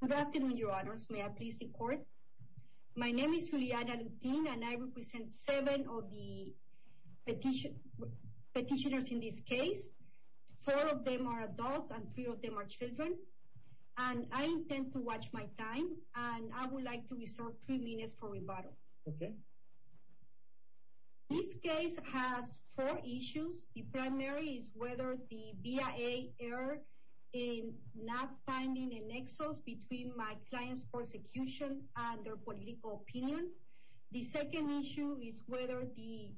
Good afternoon, your honors. May I please the court? My name is Juliana Lutin and I represent seven of the petitioners in this case. Four of them are adults and three of them are children. And I intend to watch my time and I would like to reserve three minutes for rebuttal. Okay. This case has four issues. The primary is whether the BIA error in not finding a nexus between my client's persecution and their political opinion. The second issue is whether the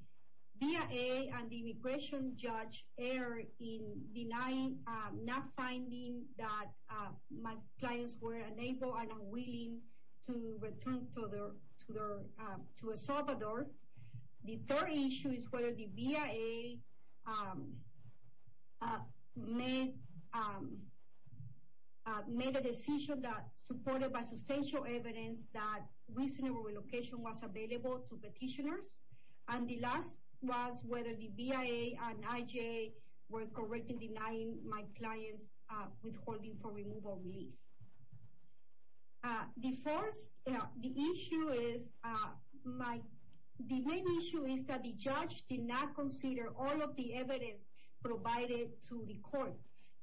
BIA and the immigration judge error in denying not finding that my clients were unable and unwilling to return to El Salvador. The third issue is whether the BIA made a decision that supported by substantial evidence that reasonable relocation was available to petitioners. And the last was whether the BIA and IJ were correct in denying my clients withholding for removal relief. The main issue is that the judge did not consider all of the evidence provided to the court.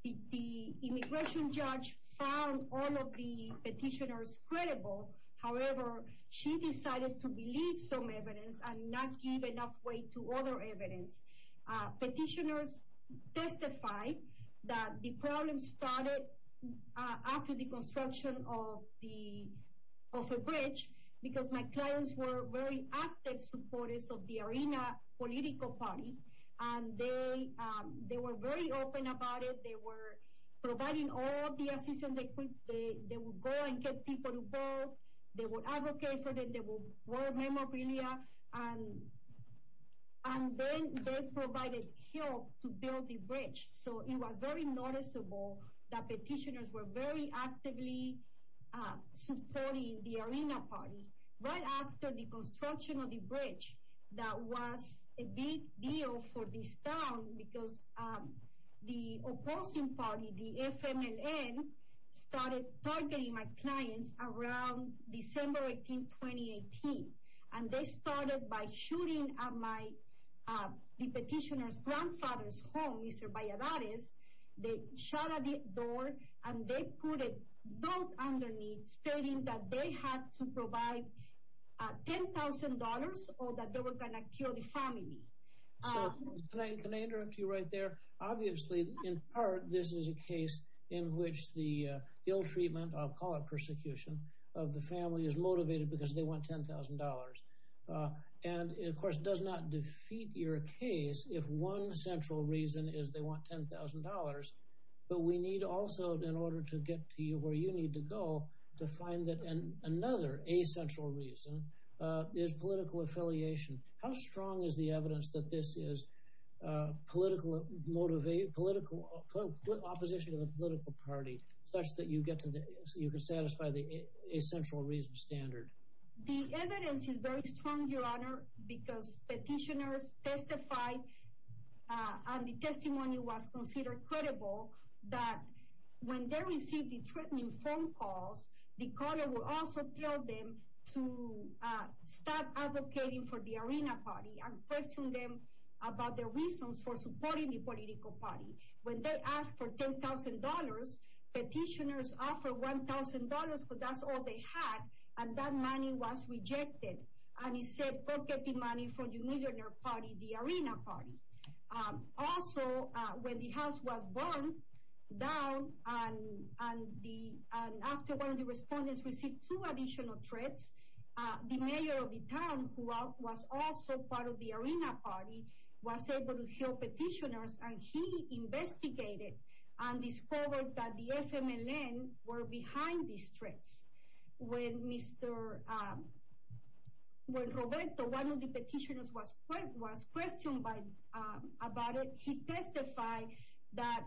The immigration judge found all of the petitioners credible. However, she decided to believe some evidence and not give enough weight to other evidence. Petitioners testified that the problem started after the construction of a bridge because my clients were very active supporters of the arena political party. And they were very open about it. They were providing all the assistance they could. They would go and get people to vote. They would advocate for them. They would work memorabilia. And then they provided help to build the bridge. So it was very noticeable that petitioners were very actively supporting the arena party. Right after the construction of the bridge, that was a big deal for this town because the opposing party, the FMLN, started targeting my clients around December 18, 2018. And they started by shooting at my petitioner's grandfather's home, Mr. Valladares. They shot at the door and they put a note underneath stating that they had to provide $10,000 or that they were going to kill the family. Can I interrupt you right there? Obviously, in part, this is a case in which the ill-treatment, I'll call it persecution, of the family is motivated because they want $10,000. And, of course, it does not defeat your case if one central reason is they want $10,000. But we need also, in order to get to you where you need to go, to find that another essential reason is political affiliation. How strong is the evidence that this is political opposition to the political party such that you can satisfy the essential reason standard? The evidence is very strong, Your Honor, because petitioners testified and the testimony was considered credible that when they received the threatening phone calls, the caller would also tell them to stop advocating for the Arena Party and question them about their reasons for supporting the political party. When they asked for $10,000, petitioners offered $1,000 because that's all they had and that money was rejected. And he said, go get the money from your millionaire party, the Arena Party. Also, when the house was burned down and after one of the respondents received two additional threats, the mayor of the town, who was also part of the Arena Party, was able to help petitioners and he investigated and discovered that the FMLN were behind these threats. When Roberto, one of the petitioners, was questioned about it, he testified that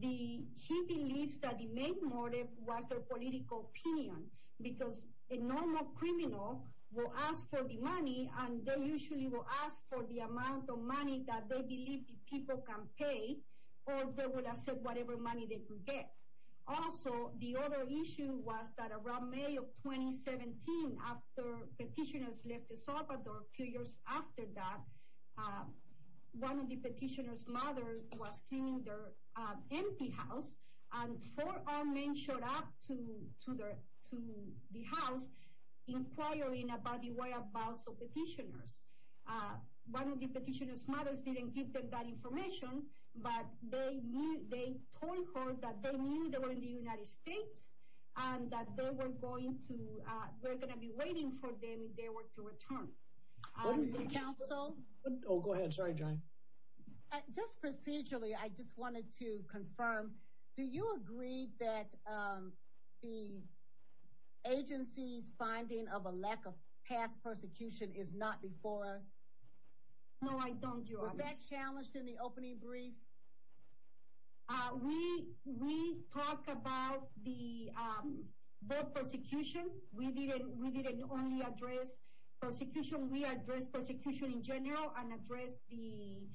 he believes that the main motive was their political opinion because a normal criminal will ask for the money and they usually will ask for the amount of money that they believe the people can pay or they will accept whatever money they can get. Also, the other issue was that around May of 2017, after petitioners left El Salvador, a few years after that, one of the petitioners' mother was cleaning their empty house and four armed men showed up to the house inquiring about the whereabouts of petitioners. One of the petitioners' mothers didn't give them that information, but they told her that they knew they were in the United States and that they were going to be waiting for them if they were to return. Just procedurally, I just wanted to confirm, do you agree that the agency's finding of a lack of past persecution is not before us? No, I don't, Your Honor. Was that challenged in the opening brief? We talked about the persecution, we didn't only address persecution, we addressed persecution in general and addressed the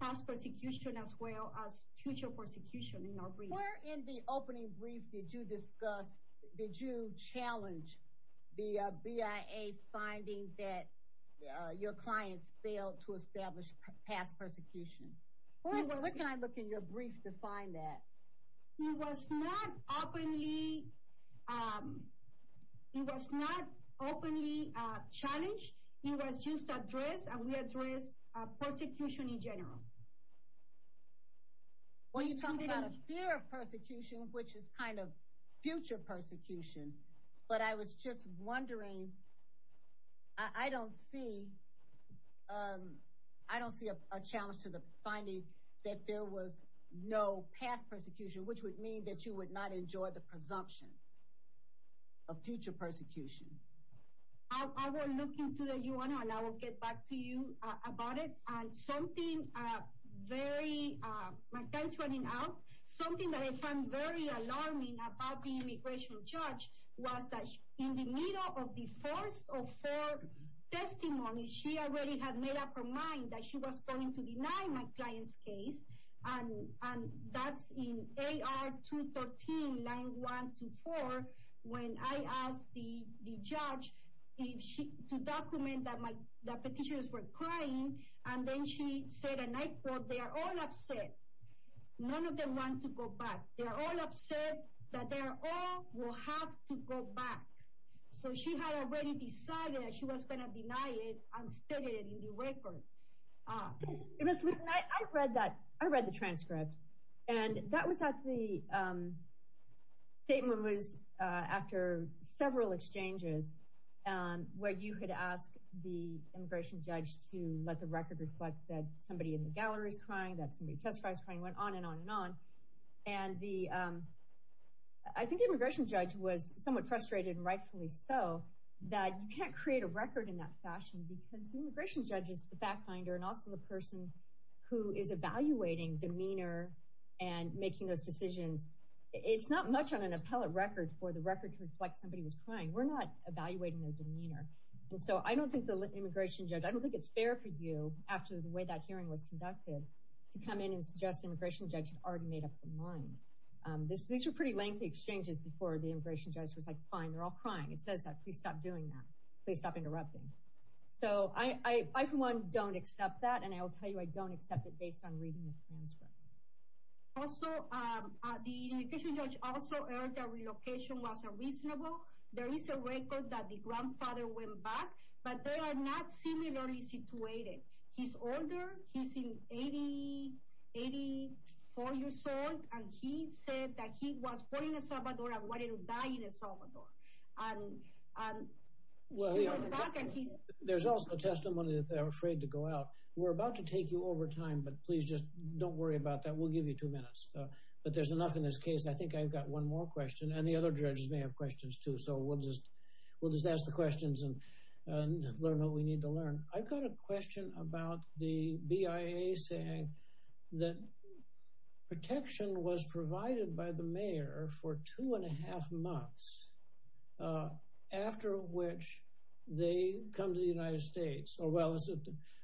past persecution as well as future persecution in our brief. Where in the opening brief did you discuss, did you challenge the BIA's finding that your clients failed to establish past persecution? Where can I look in your brief to find that? It was not openly challenged, it was just addressed and we addressed persecution in general. Well, you talk about a fear of persecution, which is kind of future persecution, but I was just wondering, I don't see a challenge to the finding that there was no past persecution, which would mean that you would not enjoy the presumption of future persecution. I will look into it, Your Honor, and I will get back to you about it. Something that I found very alarming about the immigration judge was that in the middle of the first of four testimonies, she already had made up her mind that she was going to deny my client's case. And that's in AR 213, line 1 to 4, when I asked the judge to document that my petitions were crying, and then she said at night quote, they are all upset. None of them want to go back. They are all upset that they all will have to go back. So she had already decided that she was going to deny it and stated it in the record. Ms. Luton, I read the transcript, and that statement was after several exchanges where you had asked the immigration judge to let the record reflect that somebody in the gallery is crying, that somebody testifies crying, and it went on and on and on. And I think the immigration judge was somewhat frustrated and rightfully so that you can't create a record in that fashion because the immigration judge is the fact finder and also the person who is evaluating demeanor and making those decisions. It's not much on an appellate record for the record to reflect somebody was crying. We're not evaluating their demeanor. So I don't think the immigration judge, I don't think it's fair for you, after the way that hearing was conducted, to come in and suggest the immigration judge had already made up her mind. These were pretty lengthy exchanges before the immigration judge was like, fine, they're all crying. It says that. Please stop doing that. Please stop interrupting. So I for one don't accept that, and I will tell you I don't accept it based on reading the transcript. Also, the immigration judge also heard that relocation was unreasonable. There is a record that the grandfather went back, but they are not similarly situated. He's older. He's in 80, 84 years old, and he said that he was born in El Salvador and wanted to die in El Salvador. Well, there's also a testimony that they're afraid to go out. We're about to take you over time, but please just don't worry about that. We'll give you two minutes, but there's enough in this case. I think I've got one more question and the other judges may have questions, too. So we'll just we'll just ask the questions and learn what we need to learn. I've got a question about the BIA saying that protection was provided by the mayor for two and a half months after which they come to the United States. Oh, well,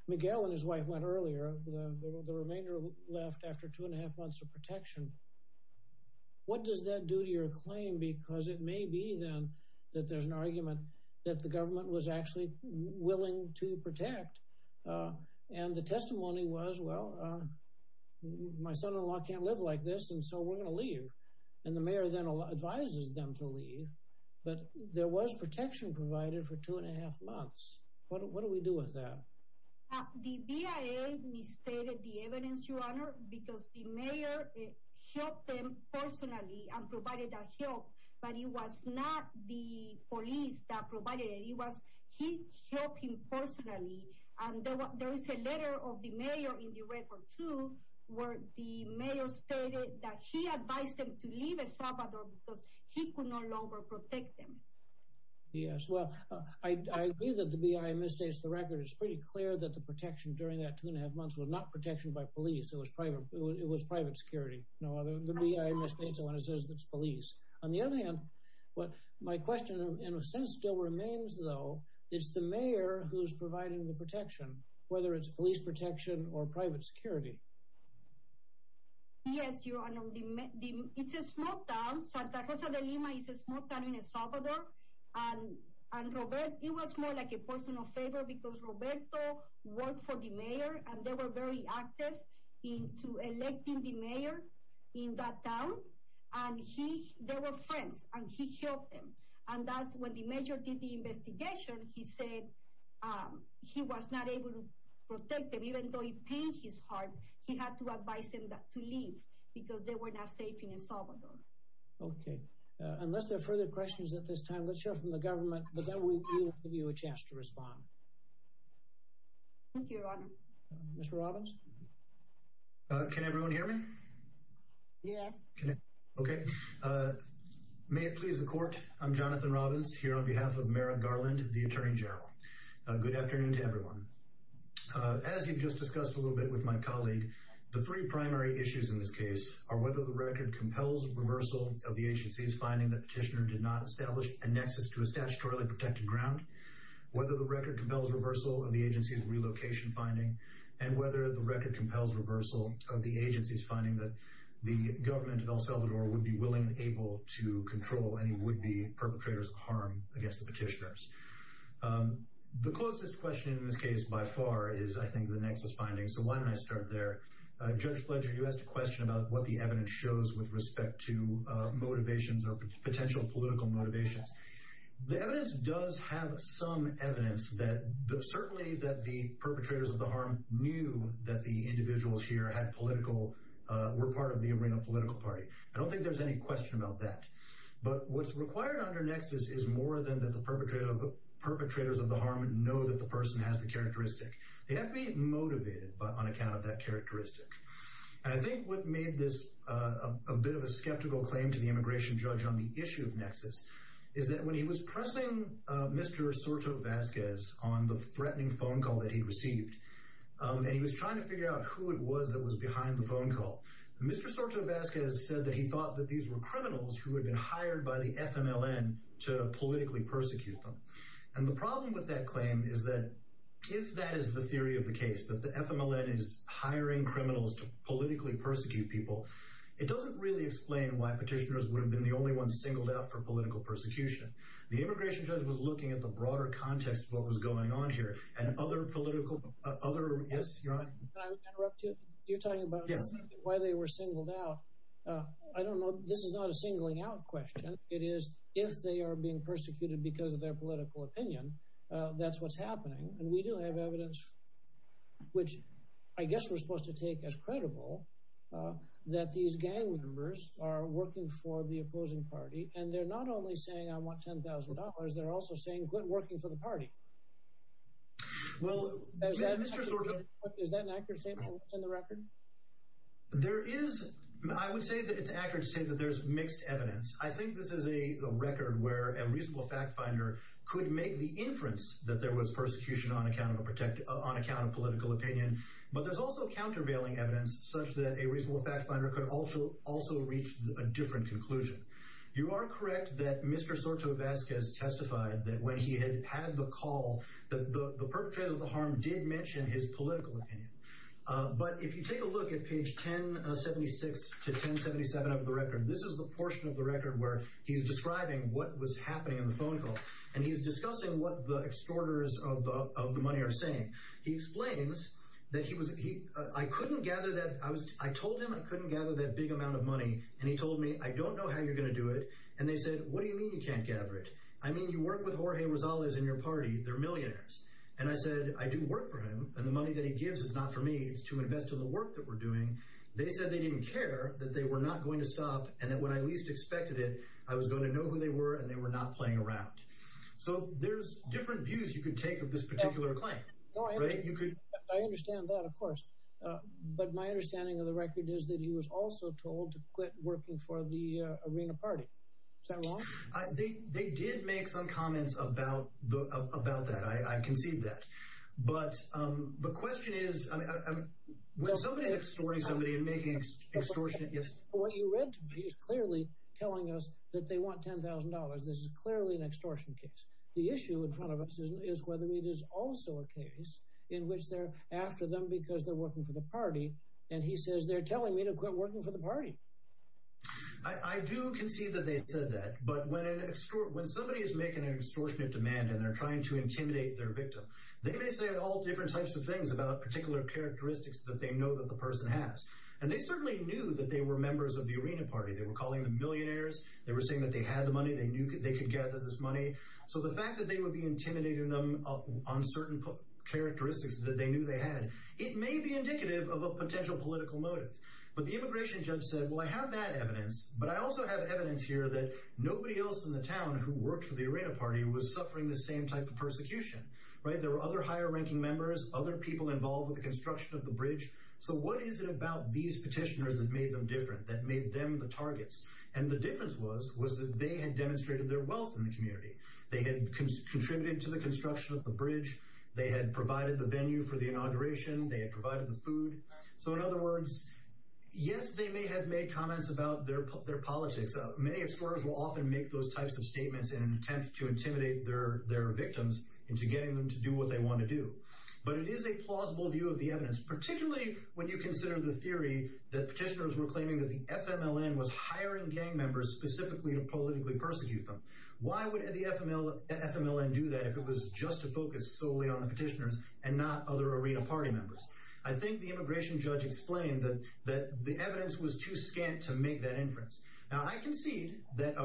Miguel and his wife went earlier. The remainder left after two and a half months of protection. What does that do to your claim? Because it may be then that there's an argument that the government was actually willing to protect. And the testimony was, well, my son in law can't live like this. And so we're going to leave. And the mayor then advises them to leave. But there was protection provided for two and a half months. What do we do with that? The BIA misstated the evidence, your honor, because the mayor helped them personally and provided that help. But it was not the police that provided it. It was he helped him personally. And there is a letter of the mayor in the record, too, where the mayor stated that he advised them to leave El Salvador because he could no longer protect them. Yes, well, I agree that the BIA misstates the record. It's pretty clear that the protection during that two and a half months was not protection by police. It was private. It was private security. No other BIA misstates when it says it's police. On the other hand, what my question in a sense still remains, though, is the mayor who's providing the protection, whether it's police protection or private security. Yes, your honor. It's a small town. Santa Rosa de Lima is a small town in El Salvador. And it was more like a personal favor because Roberto worked for the mayor and they were very active in electing the mayor in that town. And they were friends and he helped them. And that's when the major did the investigation. He said he was not able to protect them, even though it pains his heart. He had to advise them to leave because they were not safe in El Salvador. OK, unless there are further questions at this time, let's hear from the government. But then we'll give you a chance to respond. Thank you, your honor. Mr. Robbins. Can everyone hear me? Yes. OK. May it please the court. I'm Jonathan Robbins here on behalf of Merrick Garland, the attorney general. Good afternoon to everyone. As you just discussed a little bit with my colleague. The three primary issues in this case are whether the record compels reversal of the agency's finding that petitioner did not establish a nexus to a statutorily protected ground. Whether the record compels reversal of the agency's relocation finding and whether the record compels reversal of the agency's finding that the government in El Salvador would be willing and able to control any would be perpetrators of harm against the petitioners. The closest question in this case by far is, I think, the nexus finding. So why don't I start there? Judge Fletcher, you asked a question about what the evidence shows with respect to motivations or potential political motivations. The evidence does have some evidence that certainly that the perpetrators of the harm knew that the individuals here had political were part of the arena political party. I don't think there's any question about that. But what's required under nexus is more than that. The perpetrator of the perpetrators of the harm and know that the person has the characteristic. They have to be motivated on account of that characteristic. And I think what made this a bit of a skeptical claim to the immigration judge on the issue of nexus is that when he was pressing Mr. Soto Vasquez on the threatening phone call that he received. And he was trying to figure out who it was that was behind the phone call. Mr. Soto Vasquez said that he thought that these were criminals who had been hired by the FMLN to politically persecute them. And the problem with that claim is that if that is the theory of the case, that the FMLN is hiring criminals to politically persecute people. It doesn't really explain why petitioners would have been the only one singled out for political persecution. The immigration judge was looking at the broader context of what was going on here and other political other. You're talking about why they were singled out. I don't know. This is not a singling out question. It is if they are being persecuted because of their political opinion. That's what's happening. And we do have evidence, which I guess we're supposed to take as credible that these gang members are working for the opposing party. And they're not only saying I want $10,000. They're also saying quit working for the party. Well, is that an accurate statement in the record? There is. I would say that it's accurate to say that there's mixed evidence. I think this is a record where a reasonable fact finder could make the inference that there was persecution on account of a protected on account of political opinion. But there's also countervailing evidence such that a reasonable fact finder could also also reach a different conclusion. You are correct that Mr. Soto Vasquez testified that when he had had the call, the perpetrator of the harm did mention his political opinion. But if you take a look at page 1076 to 1077 of the record, this is the portion of the record where he's describing what was happening in the phone call. And he's discussing what the extorters of the money are saying. He explains that he was he I couldn't gather that. I was I told him I couldn't gather that big amount of money. And he told me, I don't know how you're going to do it. And they said, what do you mean you can't gather it? I mean, you work with Jorge Rosales in your party. They're millionaires. And I said, I do work for him. And the money that he gives is not for me. It's to invest in the work that we're doing. They said they didn't care that they were not going to stop and that when I least expected it, I was going to know who they were and they were not playing around. So there's different views you can take of this particular claim. You could. I understand that, of course. But my understanding of the record is that he was also told to quit working for the arena party. So I think they did make some comments about the about that. I can see that. But the question is, I mean, somebody extorting somebody and making extortion. Yes. What you read to me is clearly telling us that they want ten thousand dollars. This is clearly an extortion case. The issue in front of us is whether it is also a case in which they're after them because they're working for the party. And he says they're telling me to quit working for the party. I do concede that they said that. But when an extort when somebody is making an extortion of demand and they're trying to intimidate their victim, they may say all different types of things about particular characteristics that they know that the person has. And they certainly knew that they were members of the arena party. They were calling the millionaires. They were saying that they had the money. They knew they could get this money. So the fact that they would be intimidating them on certain characteristics that they knew they had, it may be indicative of a potential political motive. But the immigration judge said, well, I have that evidence. But I also have evidence here that nobody else in the town who worked for the arena party was suffering the same type of persecution. Right. There were other higher ranking members, other people involved with the construction of the bridge. So what is it about these petitioners that made them different, that made them the targets? And the difference was, was that they had demonstrated their wealth in the community. They had contributed to the construction of the bridge. They had provided the venue for the inauguration. They had provided the food. So in other words, yes, they may have made comments about their their politics. Many extorters will often make those types of statements in an attempt to intimidate their their victims into getting them to do what they want to do. But it is a plausible view of the evidence, particularly when you consider the theory that petitioners were claiming that the FMLN was hiring gang members specifically to politically persecute them. Why would the FMLN do that if it was just to focus solely on the petitioners and not other arena party members? I think the immigration judge explained that that the evidence was too scant to make that inference. Now, I concede that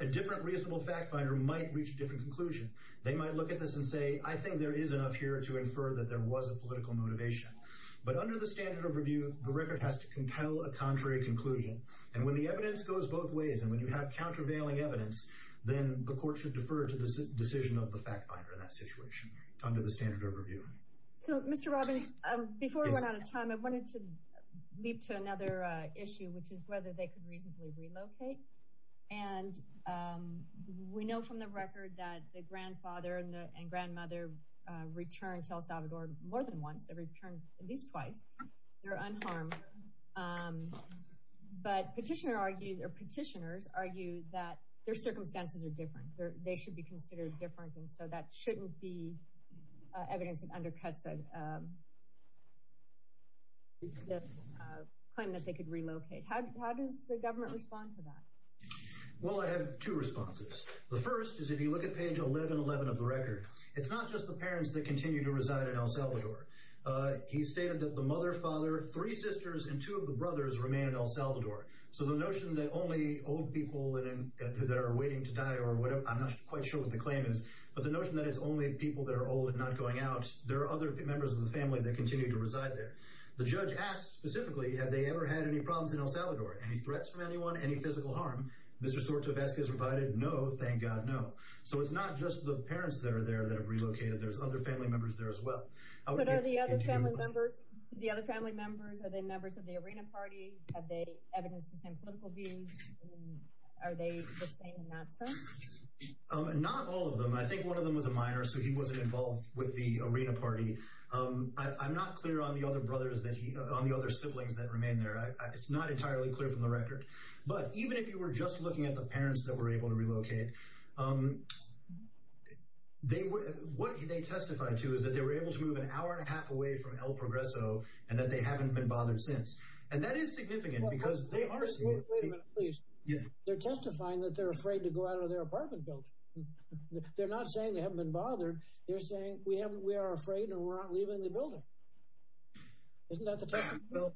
a different reasonable fact finder might reach a different conclusion. They might look at this and say, I think there is enough here to infer that there was a political motivation. But under the standard of review, the record has to compel a contrary conclusion. And when the evidence goes both ways and when you have countervailing evidence, then the court should defer to the decision of the fact finder in that situation under the standard of review. So, Mr. Robbins, before we run out of time, I wanted to leap to another issue, which is whether they could reasonably relocate. And we know from the record that the grandfather and grandmother returned to El Salvador more than once. They returned at least twice. They were unharmed. But petitioners argue that their circumstances are different. They should be considered different. And so that shouldn't be evidence that undercuts the claim that they could relocate. How does the government respond to that? Well, I have two responses. The first is if you look at page 1111 of the record, it's not just the parents that continue to reside in El Salvador. He stated that the mother, father, three sisters and two of the brothers remain in El Salvador. So the notion that only old people that are waiting to die or whatever, I'm not quite sure what the claim is. But the notion that it's only people that are old and not going out. There are other members of the family that continue to reside there. The judge asked specifically, have they ever had any problems in El Salvador? Any threats from anyone? Any physical harm? Mr. Sortovescu has rebutted, no, thank God, no. So it's not just the parents that are there that have relocated. There's other family members there as well. But are the other family members, are they members of the Arena Party? Have they evidenced the same political views? Are they the same in that sense? Not all of them. I think one of them was a minor, so he wasn't involved with the Arena Party. I'm not clear on the other brothers, on the other siblings that remain there. It's not entirely clear from the record. But even if you were just looking at the parents that were able to relocate, what they testified to is that they were able to move an hour and a half away from El Progreso and that they haven't been bothered since. And that is significant because they are saying... Wait a minute, please. They're testifying that they're afraid to go out of their apartment building. They're not saying they haven't been bothered. They're saying we are afraid and we're not leaving the building. Isn't that the testimony?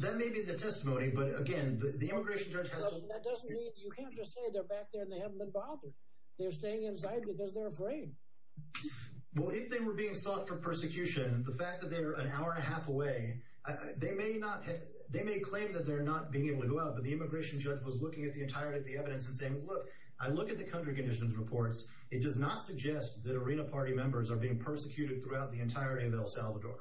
That may be the testimony, but again, the immigration judge has to... That doesn't mean you can't just say they're back there and they haven't been bothered. They're staying inside because they're afraid. Well, if they were being sought for persecution, the fact that they're an hour and a half away, they may claim that they're not being able to go out, but the immigration judge was looking at the entirety of the evidence and saying, look, I look at the country conditions reports. It does not suggest that Arena Party members are being persecuted throughout the entirety of El Salvador.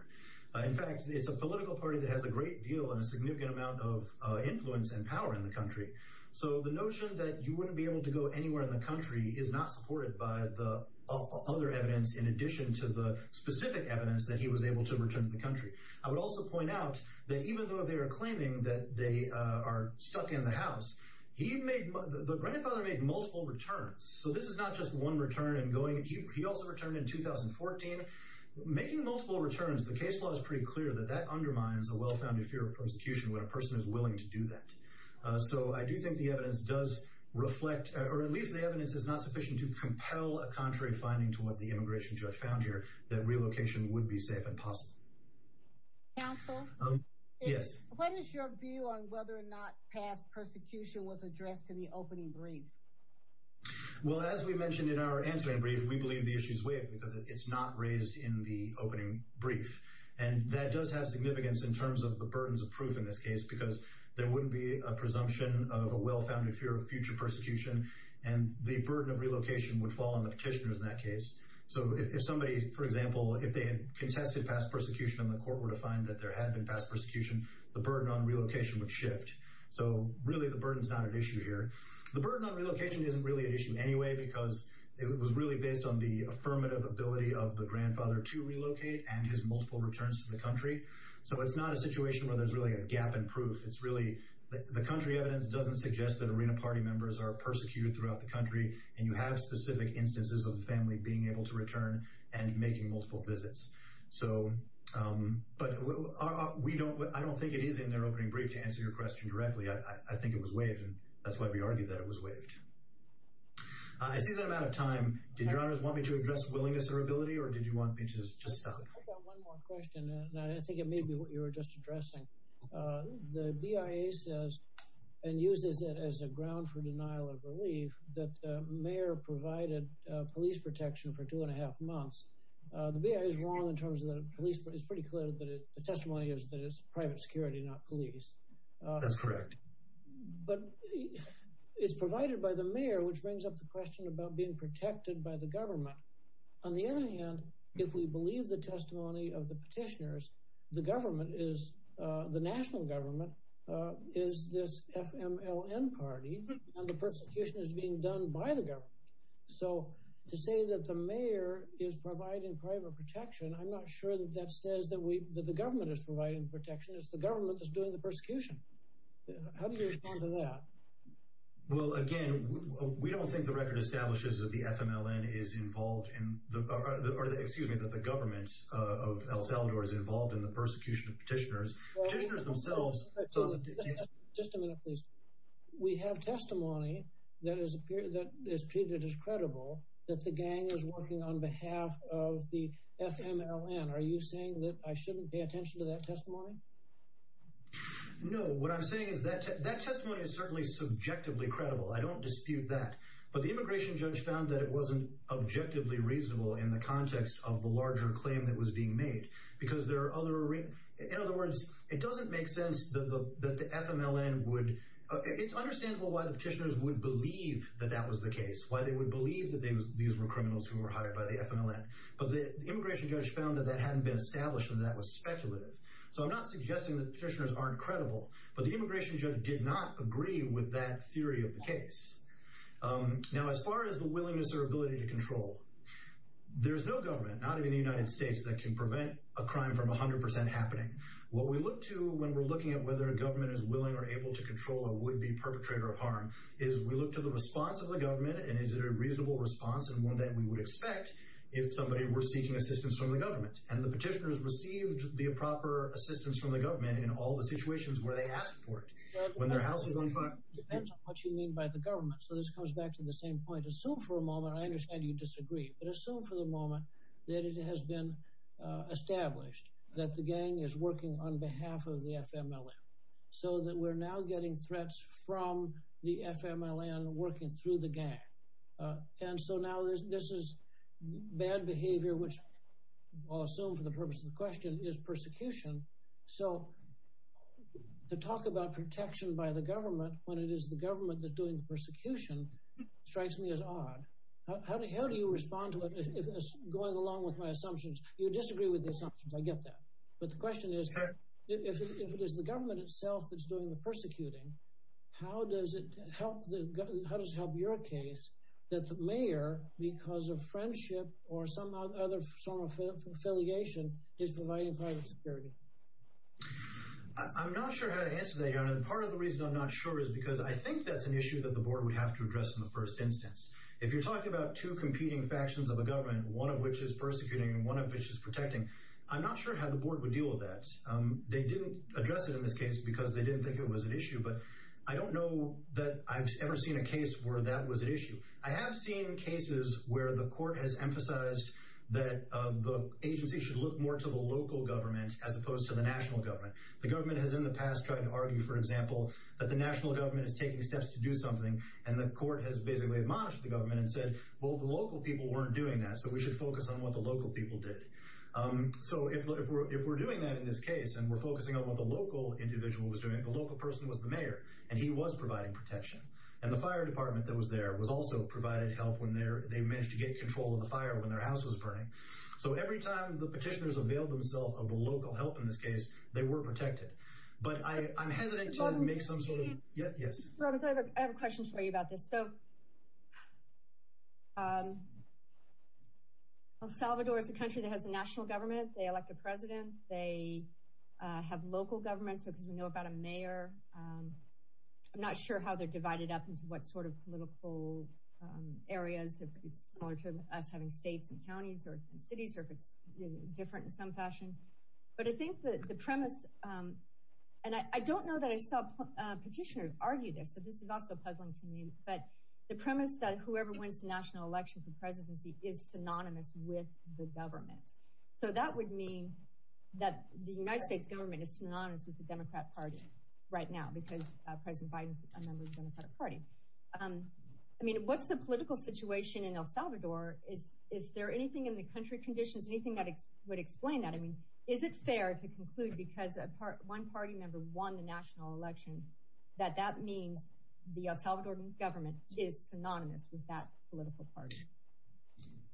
In fact, it's a political party that has a great deal and a significant amount of influence and power in the country. So the notion that you wouldn't be able to go anywhere in the country is not supported by the other evidence in addition to the specific evidence that he was able to return to the country. I would also point out that even though they are claiming that they are stuck in the house, the grandfather made multiple returns. So this is not just one return and going. He also returned in 2014. Making multiple returns, the case law is pretty clear that that undermines a well-founded fear of persecution when a person is willing to do that. So I do think the evidence does reflect, or at least the evidence is not sufficient to compel a contrary finding to what the immigration judge found here, that relocation would be safe and possible. Counsel? Yes. What is your view on whether or not past persecution was addressed in the opening brief? Well, as we mentioned in our answering brief, we believe the issue is waived because it's not raised in the opening brief. And that does have significance in terms of the burdens of proof in this case because there wouldn't be a presumption of a well-founded fear of future persecution and the burden of relocation would fall on the petitioners in that case. So if somebody, for example, if they had contested past persecution and the court were to find that there had been past persecution, the burden on relocation would shift. So really the burden is not at issue here. The burden on relocation isn't really at issue anyway because it was really based on the affirmative ability of the grandfather to relocate and his multiple returns to the country. So it's not a situation where there's really a gap in proof. It's really the country evidence doesn't suggest that Arena Party members are persecuted throughout the country and you have specific instances of the family being able to return and making multiple visits. But I don't think it is in their opening brief to answer your question directly. I think it was waived, and that's why we argue that it was waived. I see that I'm out of time. Did Your Honors want me to address willingness or ability, or did you want me to just stop? I've got one more question, and I think it may be what you were just addressing. The BIA says and uses it as a ground for denial of relief that the mayor provided police protection for two-and-a-half months. The BIA is wrong in terms of the police. It's pretty clear that the testimony is that it's private security, not police. That's correct. But it's provided by the mayor, which brings up the question about being protected by the government. On the other hand, if we believe the testimony of the petitioners, the national government is this FMLN party, and the persecution is being done by the government. So to say that the mayor is providing private protection, I'm not sure that that says that the government is providing protection. It's the government that's doing the persecution. How do you respond to that? Well, again, we don't think the record establishes that the FMLN is involved in – or excuse me, that the government of El Salvador is involved in the persecution of petitioners. Petitioners themselves – Just a minute, please. We have testimony that is treated as credible, that the gang is working on behalf of the FMLN. Are you saying that I shouldn't pay attention to that testimony? No. What I'm saying is that that testimony is certainly subjectively credible. I don't dispute that. But the immigration judge found that it wasn't objectively reasonable in the context of the larger claim that was being made because there are other – In other words, it doesn't make sense that the FMLN would – It's understandable why the petitioners would believe that that was the case, why they would believe that these were criminals who were hired by the FMLN. But the immigration judge found that that hadn't been established and that that was speculative. So I'm not suggesting that the petitioners aren't credible. But the immigration judge did not agree with that theory of the case. Now, as far as the willingness or ability to control, there's no government, not even the United States, that can prevent a crime from 100 percent happening. What we look to when we're looking at whether a government is willing or able to control a would-be perpetrator of harm is we look to the response of the government and is it a reasonable response and one that we would expect if somebody were seeking assistance from the government. And the petitioners received the proper assistance from the government in all the situations where they asked for it. When their house is on fire – It depends on what you mean by the government. So this comes back to the same point. Assume for a moment – I understand you disagree – but assume for the moment that it has been established that the gang is working on behalf of the FMLN so that we're now getting threats from the FMLN working through the gang. And so now this is bad behavior, which I'll assume for the purpose of the question, is persecution. So to talk about protection by the government when it is the government that's doing the persecution strikes me as odd. How do you respond to it, going along with my assumptions? You disagree with the assumptions. I get that. But the question is, if it is the government itself that's doing the persecuting, how does it help your case that the mayor, because of friendship or some other form of affiliation, is providing private security? I'm not sure how to answer that. Part of the reason I'm not sure is because I think that's an issue that the board would have to address in the first instance. If you're talking about two competing factions of a government, one of which is persecuting and one of which is protecting, I'm not sure how the board would deal with that. They didn't address it in this case because they didn't think it was an issue, but I don't know that I've ever seen a case where that was an issue. I have seen cases where the court has emphasized that the agency should look more to the local government as opposed to the national government. The government has in the past tried to argue, for example, that the national government is taking steps to do something, and the court has basically admonished the government and said, well, the local people weren't doing that, so we should focus on what the local people did. If we're doing that in this case, and we're focusing on what the local individual was doing, the local person was the mayor, and he was providing protection. The fire department that was there was also providing help when they managed to get control of the fire when their house was burning. Every time the petitioners availed themselves of the local help in this case, they were protected. But I'm hesitant to make some sort of— I have a question for you about this. El Salvador is a country that has a national government. They elect a president. They have local government, because we know about a mayor. I'm not sure how they're divided up into what sort of political areas. It's similar to us having states and counties and cities, or if it's different in some fashion. But I think that the premise— and I don't know that I saw petitioners argue this, so this is also puzzling to me, but the premise that whoever wins the national election for presidency is synonymous with the government. So that would mean that the United States government is synonymous with the Democrat Party right now, because President Biden is a member of the Democratic Party. I mean, what's the political situation in El Salvador? Is there anything in the country conditions, anything that would explain that? I mean, is it fair to conclude, because one party member won the national election, that that means the El Salvador government is synonymous with that political party?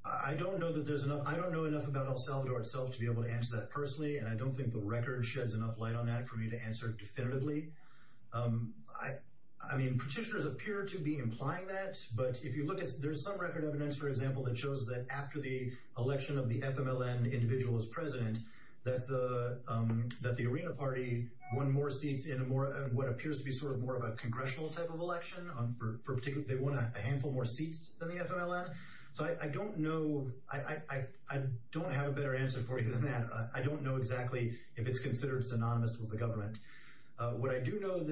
I don't know that there's enough— I don't know enough about El Salvador itself to be able to answer that personally, and I don't think the record sheds enough light on that for me to answer definitively. I mean, petitioners appear to be implying that, but if you look at— there's some record evidence, for example, that shows that after the election of the FMLN individual as president, that the Arena Party won more seats in what appears to be sort of more of a congressional type of election. They won a handful more seats than the FMLN. So I don't know— I don't have a better answer for you than that. I don't know exactly if it's considered synonymous with the government. What I do know—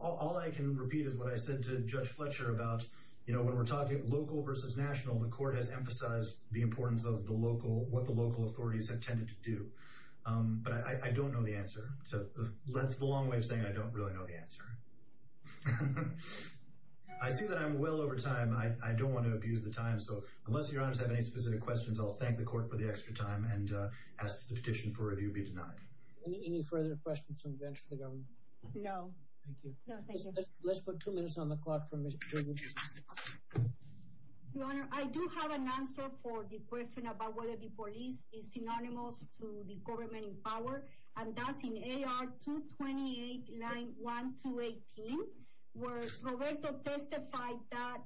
all I can repeat is what I said to Judge Fletcher about, you know, when we're talking local versus national, the court has emphasized the importance of the local— what the local authorities have tended to do. But I don't know the answer. So that's the long way of saying I don't really know the answer. I see that I'm well over time. I don't want to abuse the time, so unless your honors have any specific questions, I'll thank the court for the extra time and ask that the petition for review be denied. Any further questions on the bench for the governor? No. Thank you. No, thank you. Let's put two minutes on the clock for Mr. Briggs. Your honor, I do have an answer for the question about whether the police is synonymous to the government in power. And that's in AR-228, line 1-218, where Roberto testified that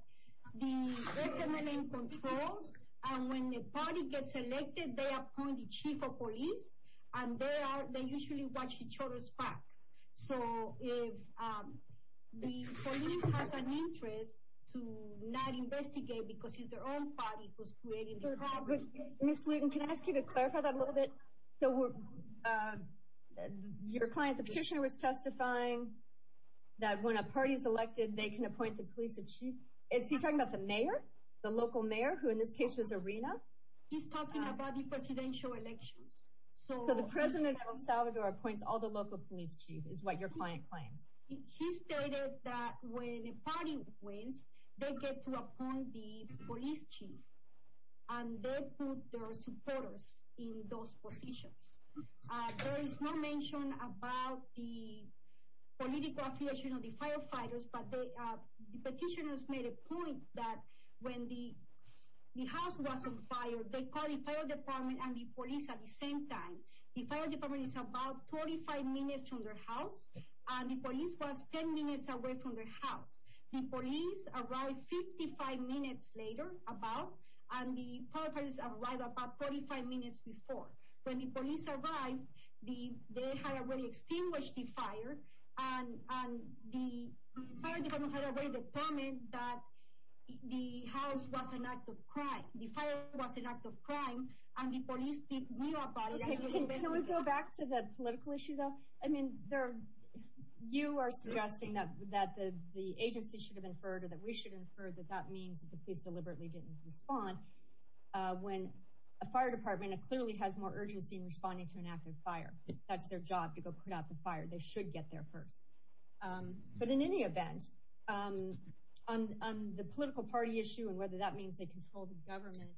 the FMLN controls, and when the party gets elected, they appoint the chief of police, and they usually watch each other's backs. So if the police has an interest to not investigate because it's their own party who's creating the problem. Ms. Luton, can I ask you to clarify that a little bit? Your client, the petitioner, was testifying that when a party is elected, they can appoint the police chief. Is he talking about the mayor, the local mayor, who in this case was Arena? He's talking about the presidential elections. So the president of El Salvador appoints all the local police chief is what your client claims. He stated that when a party wins, they get to appoint the police chief, and they put their supporters in those positions. There is no mention about the political affiliation of the firefighters, but the petitioners made a point that when the house was on fire, they called the fire department and the police at the same time. The fire department is about 45 minutes from their house, and the police was 10 minutes away from their house. The police arrived 55 minutes later, about, and the firefighters arrived about 45 minutes before. When the police arrived, they had already extinguished the fire, and the fire department had already determined that the house was an act of crime. The fire was an act of crime, and the police knew about it. Can we go back to the political issue, though? I mean, you are suggesting that the agency should have inferred or that we should have inferred that that means that the police deliberately didn't respond when a fire department clearly has more urgency in responding to an active fire. That's their job, to go put out the fire. They should get there first. But in any event, on the political party issue and whether that means they control the government,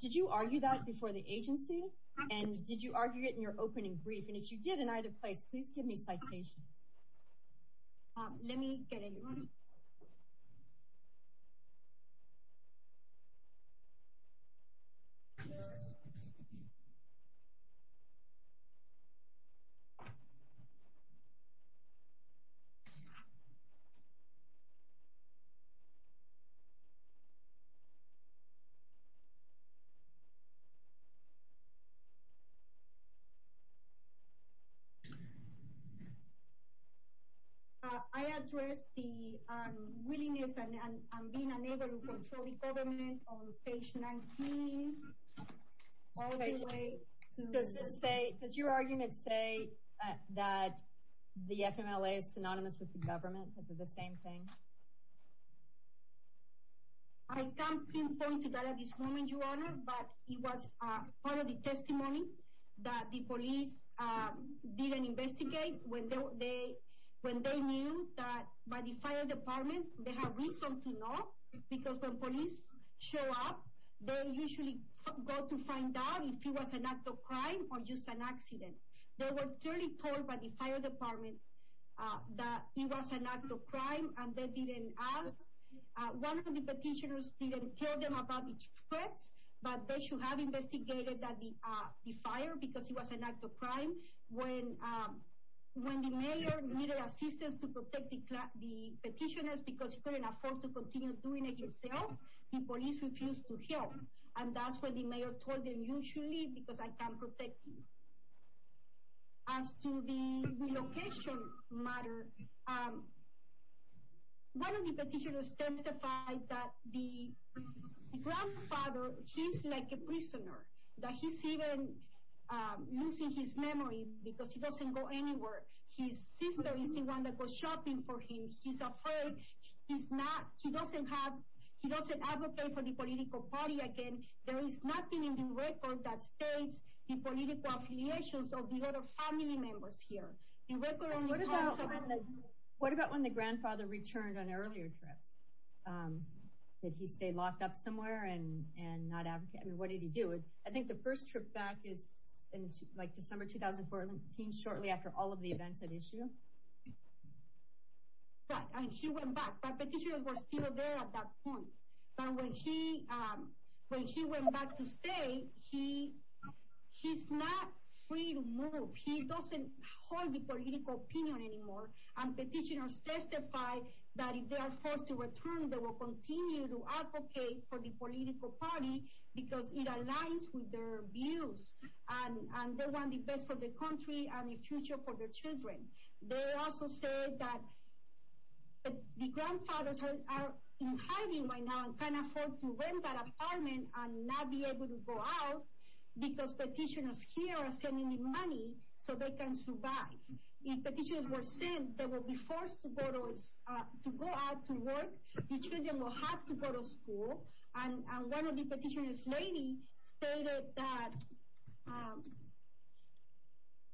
did you argue that before the agency, and did you argue it in your opening brief? And if you did in either place, please give me citations. Let me get everyone. I addressed the willingness and being unable to control the government on page 19. Does your argument say that the FMLA is synonymous with the government, the same thing? I can't pinpoint that at this moment, Your Honor, but it was part of the testimony that the police did investigate when they knew that by the fire department they have reason to know because when police show up, they usually go to find out if it was an act of crime or just an accident. They were clearly told by the fire department that it was an act of crime and they didn't ask. One of the petitioners didn't tell them about the threats, but they should have investigated the fire because it was an act of crime. When the mayor needed assistance to protect the petitioners because he couldn't afford to continue doing it himself, the police refused to help. And that's when the mayor told them, you should leave because I can't protect you. As to the relocation matter, one of the petitioners testified that the grandfather, he's like a prisoner, that he's even losing his memory because he doesn't go anywhere. His sister is the one that goes shopping for him. He's afraid. He doesn't advocate for the political party again. There is nothing in the record that states the political affiliations of the other family members here. What about when the grandfather returned on earlier trips? Did he stay locked up somewhere and not advocate? I mean, what did he do? I think the first trip back is in December 2014, shortly after all of the events at issue. Right, and he went back. But petitioners were still there at that point. But when he went back to stay, he's not free to move. He doesn't hold the political opinion anymore. And petitioners testified that if they are forced to return, they will continue to advocate for the political party because it aligns with their views. And they want the best for the country and the future for their children. They also said that the grandfathers are in hiding right now and can't afford to rent that apartment and not be able to go out because the petitioners here are sending them money so they can survive. If petitioners were sent, they will be forced to go out to work. The children will have to go to school. And one of the petitioners, a lady, stated that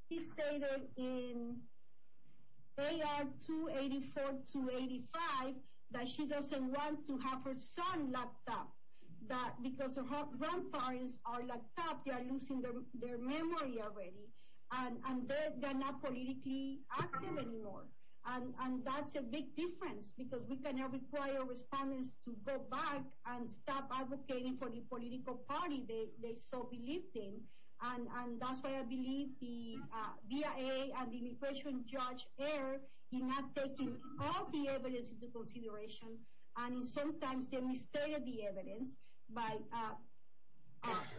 she stated in AR 284-285 that she doesn't want to have her son locked up. Because the grandfathers are locked up, they are losing their memory already. And they are not politically active anymore. And that's a big difference because we cannot require respondents to go back and stop advocating for the political party they so believe in. And that's why I believe the BIA and the immigration judge in not taking all the evidence into consideration. And sometimes they mistreated the evidence by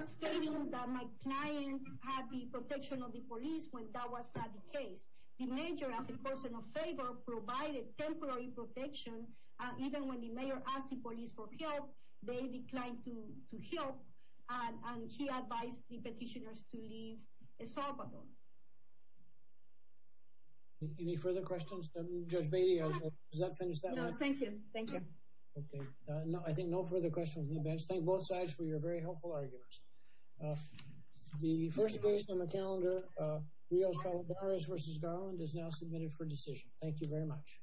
stating that my client had the protection of the police when that was not the case. The mayor, as a person of favor, provided temporary protection. Even when the mayor asked the police for help, they declined to help. And he advised the petitioners to leave El Salvador. Any further questions? Judge Beatty, does that finish that one? No, thank you. Thank you. Okay, I think no further questions on the bench. Thank both sides for your very helpful arguments. The first case on the calendar, Rios Calderas v. Garland, is now submitted for decision. Thank you very much.